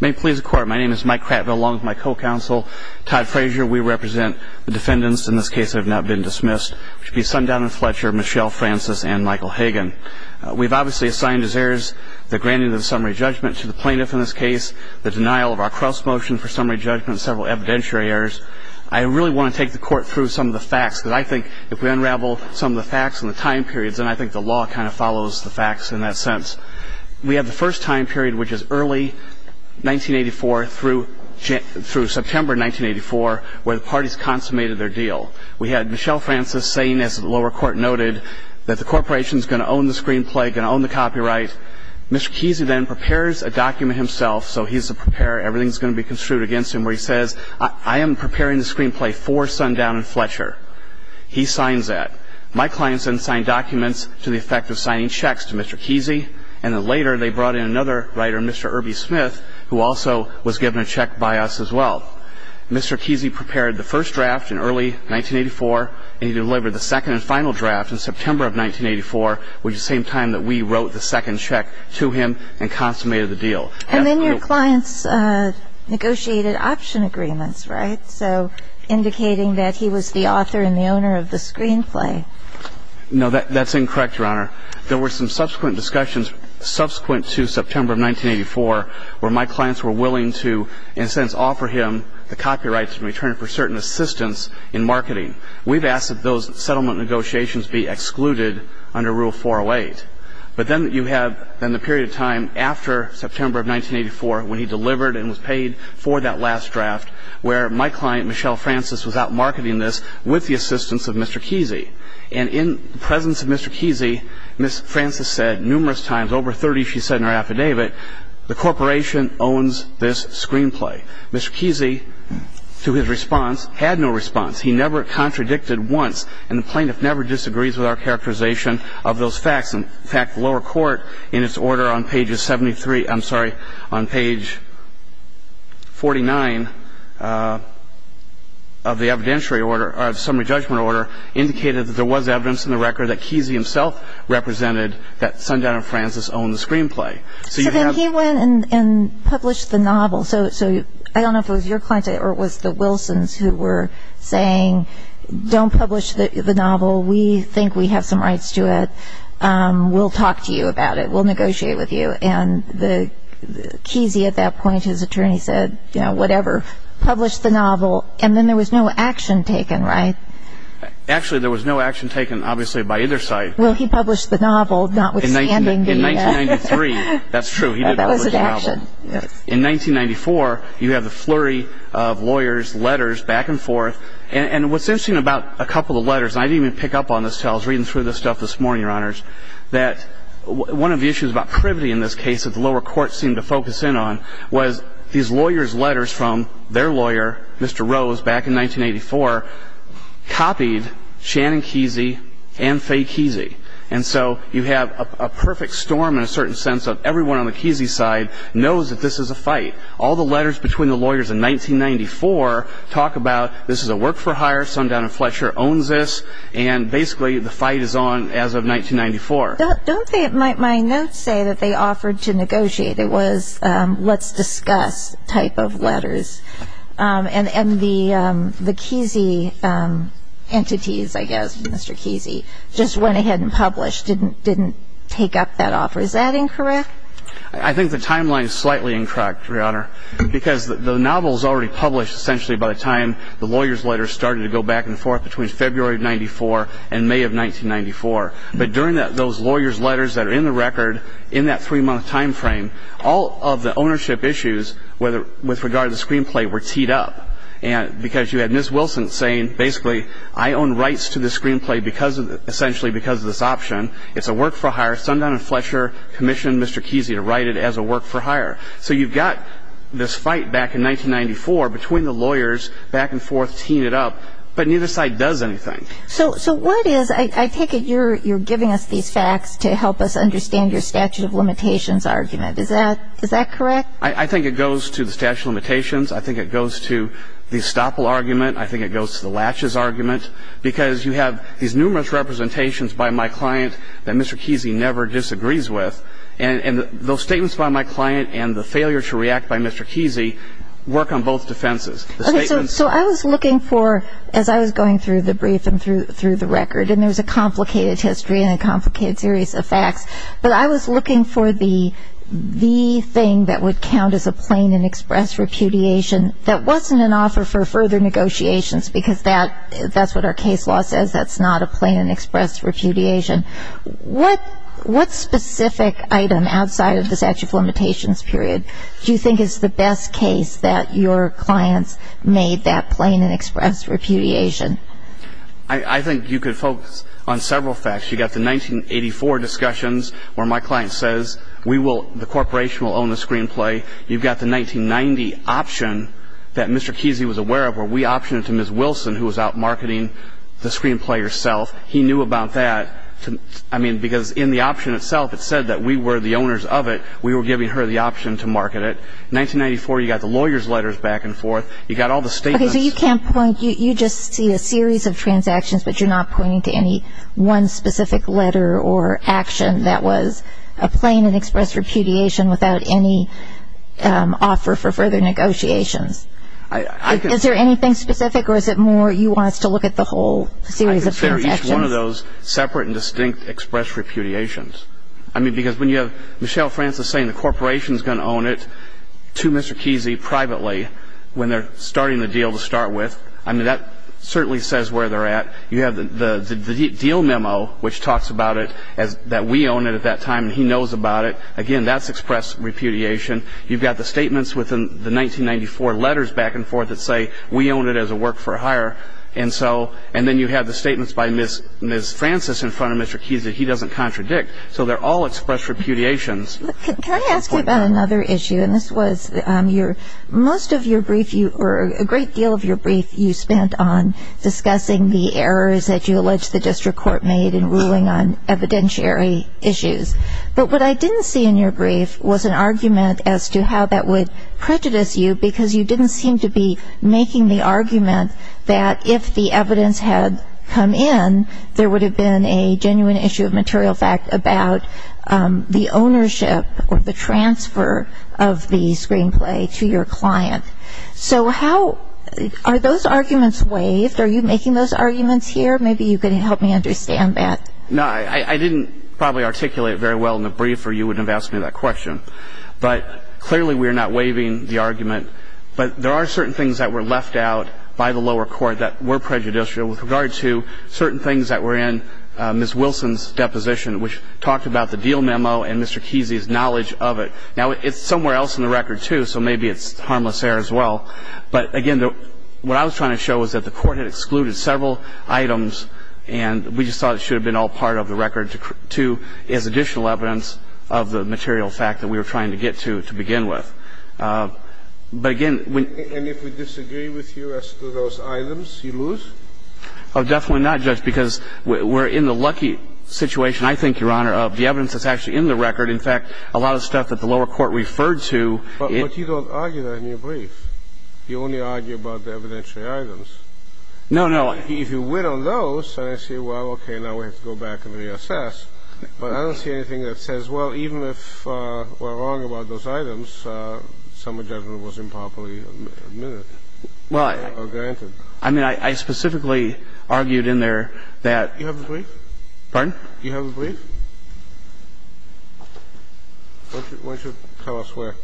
May it please the court, my name is Mike Cratville-Long, my co-counsel. Todd Frazier, we represent the defendants in this case that have not been dismissed, which would be Sundown and Fletcher, Michele Francis, and Michael Hagan. We've obviously assigned as heirs the granting of the summary judgment to the plaintiff in this case, the denial of our cross-motion for summary judgment, several evidentiary errors. I really want to take the court through some of the facts, because I think if we unravel some of the facts and the time periods, then I think the law kind of follows the facts in that sense. We have the first time period, which is early 1984 through September 1984, where the parties consummated their deal. We had Michele Francis saying, as the lower court noted, that the corporation's going to own the screenplay, going to own the copyright. Mr. Kesey then prepares a document himself, so he's the preparer, everything's going to be construed against him, where he says, I am preparing the screenplay for Sundown and Fletcher. He signs that. My clients then signed documents to the effect of signing checks to Mr. Kesey, and then later they brought in another writer, Mr. Irby Smith, who also was given a check by us as well. Mr. Kesey prepared the first draft in early 1984, and he delivered the second and final draft in September of 1984, which is the same time that we wrote the second check to him and consummated the deal. And then your clients negotiated option agreements, right? So indicating that he was the author and the owner of the screenplay. No, that's incorrect, Your Honor. There were some subsequent discussions subsequent to September of 1984 where my clients were willing to, in a sense, offer him the copyrights in return for certain assistance in marketing. We've asked that those settlement negotiations be excluded under Rule 408. But then you have the period of time after September of 1984 when he delivered and was paid for that last draft where my client, Michelle Francis, was out marketing this with the assistance of Mr. Kesey. And in the presence of Mr. Kesey, Ms. Francis said numerous times, over 30, she said in her affidavit, the corporation owns this screenplay. Mr. Kesey, to his response, had no response. He never contradicted once, and the plaintiff never disagrees with our characterization of those facts. In fact, the lower court, in its order on page 73, I'm sorry, on page 49 of the evidentiary order, of the summary judgment order, indicated that there was evidence in the record that Kesey himself represented that Sundown and Francis owned the screenplay. So then he went and published the novel. So I don't know if it was your client or it was the Wilsons who were saying, Don't publish the novel. We think we have some rights to it. We'll talk to you about it. We'll negotiate with you. And Kesey, at that point, his attorney said, you know, whatever. Published the novel, and then there was no action taken, right? Actually, there was no action taken, obviously, by either side. Well, he published the novel, notwithstanding the... In 1993, that's true, he did publish the novel. In 1994, you have the flurry of lawyers' letters back and forth. And what's interesting about a couple of the letters, and I didn't even pick up on this until I was reading through this stuff this morning, Your Honors, that one of the issues about privity in this case that the lower courts seemed to focus in on was these lawyers' letters from their lawyer, Mr. Rose, back in 1984, copied Shannon Kesey and Fay Kesey. And so you have a perfect storm in a certain sense of everyone on the Kesey side knows that this is a fight. All the letters between the lawyers in 1994 talk about this is a work-for-hire, Sundown and Fletcher owns this, and basically the fight is on as of 1994. Don't my notes say that they offered to negotiate? It was let's discuss type of letters. And the Kesey entities, I guess, Mr. Kesey, just went ahead and published, didn't take up that offer. Is that incorrect? I think the timeline is slightly incorrect, Your Honor, because the novel is already published essentially by the time the lawyers' letters started to go back and forth between February of 1994 and May of 1994. But during those lawyers' letters that are in the record in that three-month time frame, all of the ownership issues with regard to the screenplay were teed up because you had Ms. Wilson saying, basically, I own rights to this screenplay essentially because of this option. It's a work-for-hire. Sundown and Fletcher commissioned Mr. Kesey to write it as a work-for-hire. So you've got this fight back in 1994 between the lawyers back and forth teeing it up, but neither side does anything. So what is, I take it, you're giving us these facts to help us understand your statute of limitations argument. Is that correct? I think it goes to the statute of limitations. I think it goes to the estoppel argument. I think it goes to the latches argument. Because you have these numerous representations by my client that Mr. Kesey never disagrees with. And those statements by my client and the failure to react by Mr. Kesey work on both defenses. So I was looking for, as I was going through the brief and through the record, and there's a complicated history and a complicated series of facts, but I was looking for the thing that would count as a plain and express repudiation that wasn't an offer for further negotiations because that's what our case law says. That's not a plain and express repudiation. What specific item outside of the statute of limitations period do you think is the best case that your clients made that plain and express repudiation? I think you could focus on several facts. You've got the 1984 discussions where my client says the corporation will own the screenplay. You've got the 1990 option that Mr. Kesey was aware of where we optioned it to Ms. Wilson who was out marketing the screenplay herself. He knew about that. I mean, because in the option itself it said that we were the owners of it. We were giving her the option to market it. 1994, you've got the lawyer's letters back and forth. You've got all the statements. Okay, so you can't point. You just see a series of transactions, but you're not pointing to any one specific letter or action that was a plain and express repudiation without any offer for further negotiations. Is there anything specific or is it more you want us to look at the whole series of transactions? I consider each one of those separate and distinct express repudiations. I mean, because when you have Michelle Francis saying the corporation is going to own it to Mr. Kesey privately when they're starting the deal to start with, I mean, that certainly says where they're at. You have the deal memo which talks about it, that we own it at that time and he knows about it. Again, that's express repudiation. You've got the statements within the 1994 letters back and forth that say we own it as a work for hire. And then you have the statements by Ms. Francis in front of Mr. Kesey. He doesn't contradict. So they're all express repudiations. Can I ask you about another issue? And this was most of your brief or a great deal of your brief you spent on discussing the errors that you allege the district court made in ruling on evidentiary issues. But what I didn't see in your brief was an argument as to how that would prejudice you because you didn't seem to be making the argument that if the evidence had come in, there would have been a genuine issue of material fact about the ownership or the transfer of the screenplay to your client. So how are those arguments waived? Are you making those arguments here? Maybe you could help me understand that. No, I didn't probably articulate it very well in the brief or you wouldn't have asked me that question. But clearly we are not waiving the argument. But there are certain things that were left out by the lower court that were prejudicial with regard to certain things that were in Ms. Wilson's deposition, which talked about the deal memo and Mr. Kesey's knowledge of it. Now, it's somewhere else in the record, too, so maybe it's harmless error as well. But, again, what I was trying to show was that the court had excluded several items and we just thought it should have been all part of the record, too, as additional evidence of the material fact that we were trying to get to, to begin with. But, again, when ---- And if we disagree with you as to those items, you lose? Oh, definitely not, Judge, because we're in the lucky situation, I think, Your Honor, of the evidence that's actually in the record. In fact, a lot of stuff that the lower court referred to ---- But you don't argue that in your brief. You only argue about the evidentiary items. No, no. If you win on those, then I say, well, okay, now we have to go back and reassess. But I don't see anything that says, well, even if we're wrong about those items, some judgment was improperly admitted or granted. Well, I mean, I specifically argued in there that ---- Do you have the brief? Pardon? Do you have the brief? Why don't you tell us where?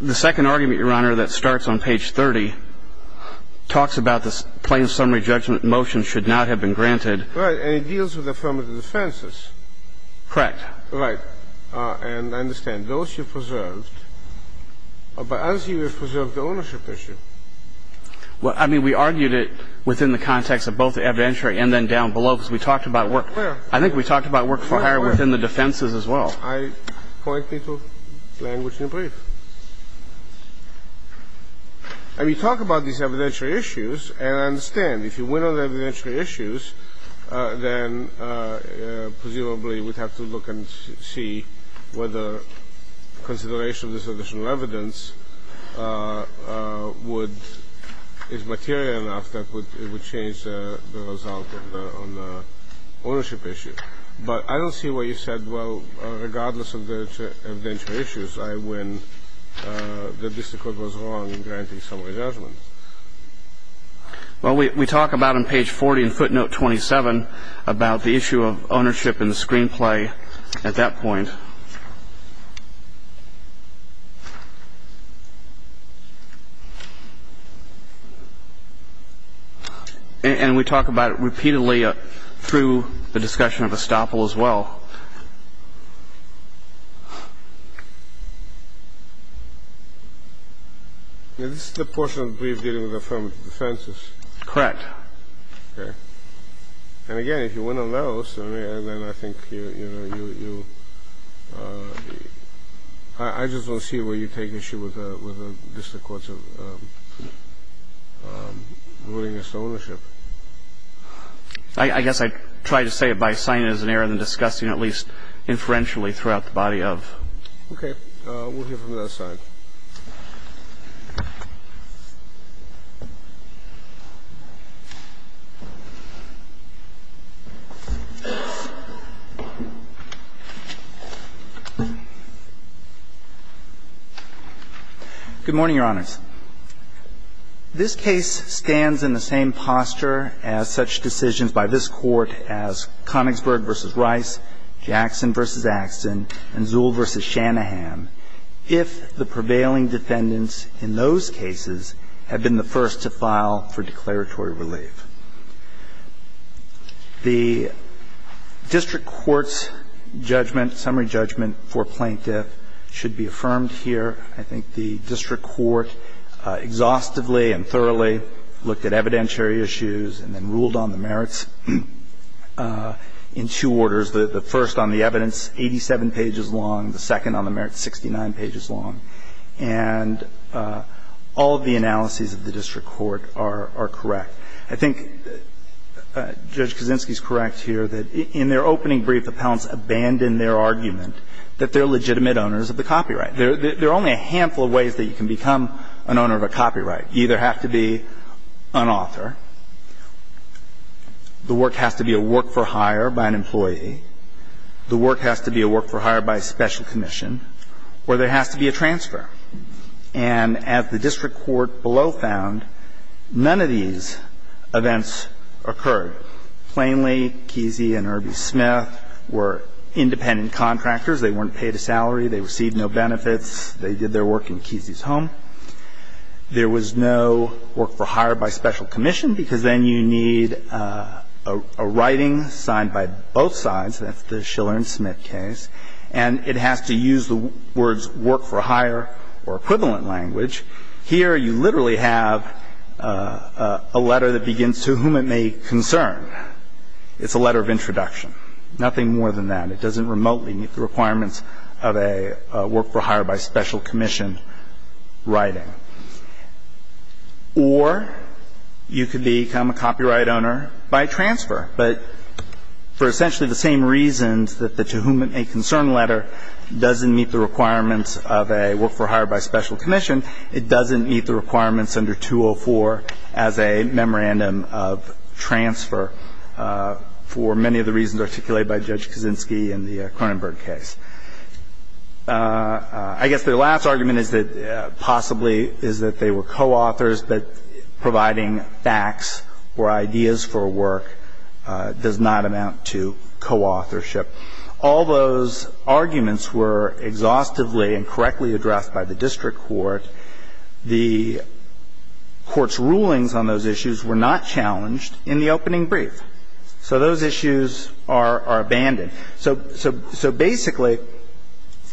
The second argument, Your Honor, that starts on page 30, talks about the plain summary judgment motion should not have been granted. Right. And it deals with affirmative defenses. Correct. Right. And I understand. But as you have preserved the ownership of the property, you have preserved the ownership. Well, I mean, we argued it within the context of both the evidentiary and then down below, because we talked about work. I think we talked about work for hire within the defenses as well. I pointed to language in the brief. And you talk about these evidentiary issues, and I understand. If you win on the evidentiary issues, then presumably we'd have to look and see whether consideration of this additional evidence would ---- is material enough that it would change the result on the ownership issue. But I don't see why you said, well, regardless of the evidentiary issues, I win, that this Court was wrong in granting summary judgment. Well, we talk about on page 40 in footnote 27 about the issue of ownership in the screenplay at that point. And we talk about it repeatedly through the discussion of estoppel as well. Is this the portion of the brief dealing with affirmative defenses? Correct. Okay. And, again, if you win on those, I mean, and then I think you, you know, you have I just don't see where you're taking issue with just the courts of ruling as to ownership. I guess I try to say it by signing it as an error and then discussing it at least inferentially throughout the body of. Okay. We'll hear from the other side. Good morning, Your Honors. This case stands in the same posture as such decisions by this Court as Conigsburg v. Rice, Jackson v. Axton, and Zuhl v. Shanahan if the prevailing defendants in those cases had been the first to file for declaratory relief. The district court's judgment, summary judgment for plaintiff should be affirmed here. I think the district court exhaustively and thoroughly looked at evidentiary issues and then ruled on the merits in two orders, the first on the evidence, 87 pages long, the second on the merits, 69 pages long. And all of the analyses of the district court are correct. I think Judge Kaczynski is correct here that in their opening brief, appellants abandoned their argument that they're legitimate owners of the copyright. There are only a handful of ways that you can become an owner of a copyright. You either have to be an author, the work has to be a work-for-hire by an employee, the work has to be a work-for-hire by a special commission, or there has to be a transfer. And as the district court below found, none of these events occurred. Plainly, Kesey and Irby Smith were independent contractors. They weren't paid a salary. They received no benefits. They did their work in Kesey's home. There was no work-for-hire by special commission, because then you need a writing signed by both sides, and that's the Schiller and Smith case, and it has to use the Schiller or equivalent language. Here you literally have a letter that begins, to whom it may concern. It's a letter of introduction. Nothing more than that. It doesn't remotely meet the requirements of a work-for-hire by special commission writing. Or you could become a copyright owner by transfer, but for essentially the same reasons that the to whom it may concern letter doesn't meet the requirements of a work-for-hire by special commission, it doesn't meet the requirements under 204 as a memorandum of transfer for many of the reasons articulated by Judge Kaczynski in the Kronenberg case. I guess their last argument is that possibly is that they were coauthors, but providing facts or ideas for work does not amount to coauthorship. All those arguments were exhaustively and correctly addressed by the district court. The court's rulings on those issues were not challenged in the opening brief. So those issues are abandoned. So basically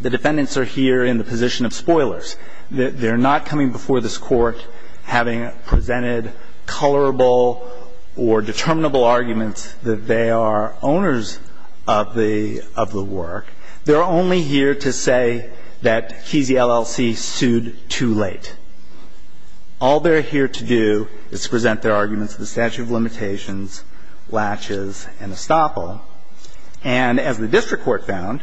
the defendants are here in the position of spoilers. They're not coming before this Court having presented colorable or determinable arguments that they are owners of the work. They're only here to say that KZ LLC sued too late. All they're here to do is present their arguments to the statute of limitations, latches, and estoppel. And as the district court found,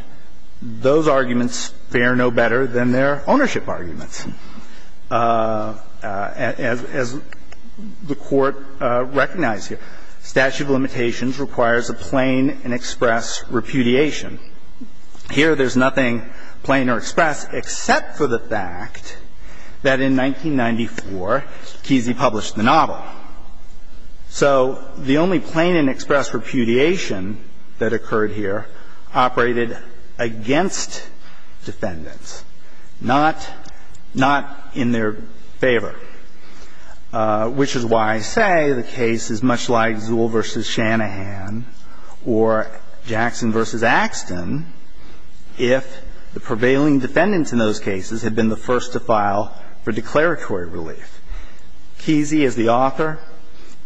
those arguments fare no better than their ownership arguments. As the Court recognized here, statute of limitations requires a plain and express repudiation. Here there's nothing plain or express except for the fact that in 1994, KZ published the novel. So the only plain and express repudiation that occurred here operated against defendants, not in their favor, which is why I say the case is much like Zuhl v. Shanahan or Jackson v. Axton if the prevailing defendants in those cases had been the first to file for declaratory relief. KZ, as the author,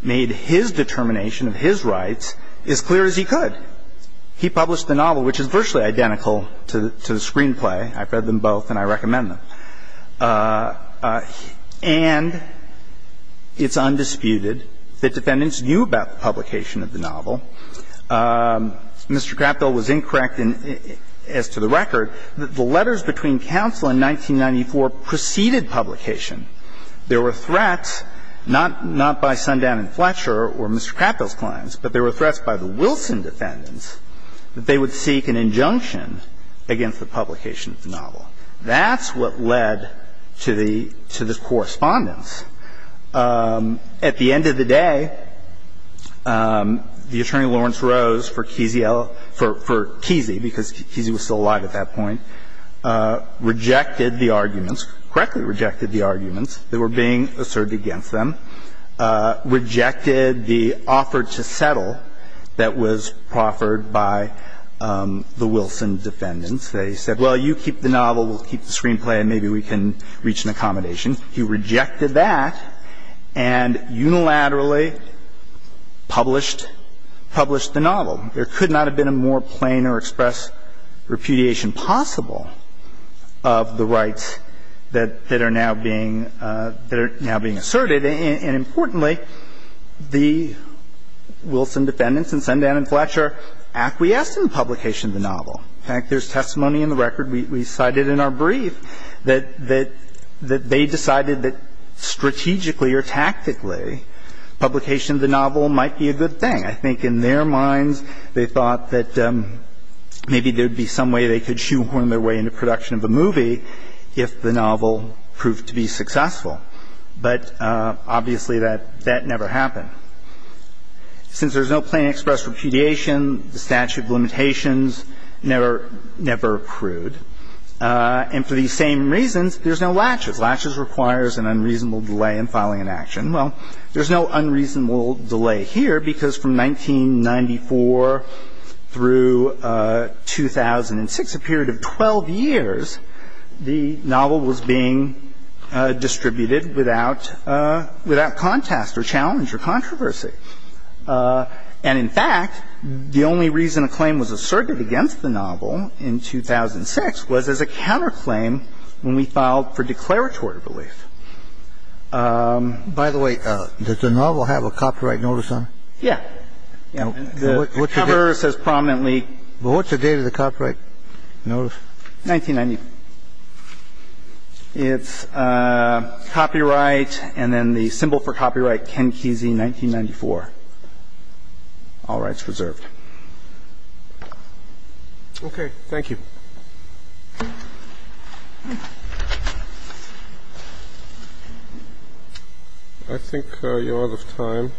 made his determination of his rights as clear as he could. He published the novel, which is virtually identical to the screenplay. I've read them both and I recommend them. And it's undisputed that defendants knew about the publication of the novel. Mr. Crapdell was incorrect as to the record. The letters between counsel in 1994 preceded publication. There were threats not by Sundan and Fletcher or Mr. Crapdell's clients, but there were threats by the Wilson defendants that they would seek an injunction against the publication of the novel. That's what led to the correspondence. At the end of the day, the Attorney Lawrence Rose for KZ, because KZ was still alive at that point, rejected the arguments, correctly rejected the arguments that were being asserted against them, rejected the offer to settle that was proffered by the Wilson defendants. They said, well, you keep the novel, we'll keep the screenplay and maybe we can reach an accommodation. He rejected that and unilaterally published the novel. There could not have been a more plain or express repudiation possible of the rights that are now being asserted. And importantly, the Wilson defendants and Sundan and Fletcher acquiesced in the publication of the novel. In fact, there's testimony in the record we cited in our brief that they decided that strategically or tactically, publication of the novel might be a good thing. I think in their minds, they thought that maybe there would be some way they could do their way into production of a movie if the novel proved to be successful. But obviously, that never happened. Since there's no plain or express repudiation, the statute of limitations never accrued. And for these same reasons, there's no latches. Latches requires an unreasonable delay in filing an action. Well, there's no unreasonable delay here because from 1994 through 2006, a period of 12 years, the novel was being distributed without contest or challenge or controversy. And in fact, the only reason a claim was asserted against the novel in 2006 was as a counterclaim when we filed for declaratory relief. By the way, does the novel have a copyright notice on it? Yeah. The cover says prominently. Well, what's the date of the copyright notice? 1990. It's copyright and then the symbol for copyright, Ken Kesey, 1994. All rights reserved. Okay. Thank you. I think you're out of time.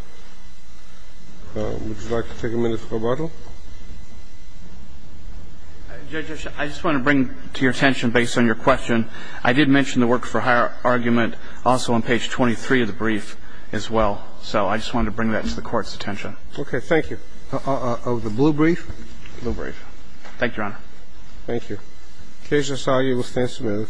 Would you like to take a minute for rebuttal? Judge, I just want to bring to your attention, based on your question, I did mention the work for hire argument also on page 23 of the brief as well. So I just wanted to bring that to the Court's attention. Okay. Thank you. Of the blue brief? Blue brief. Thank you, Your Honor. Thank you. The case is argued. We'll stand smooth.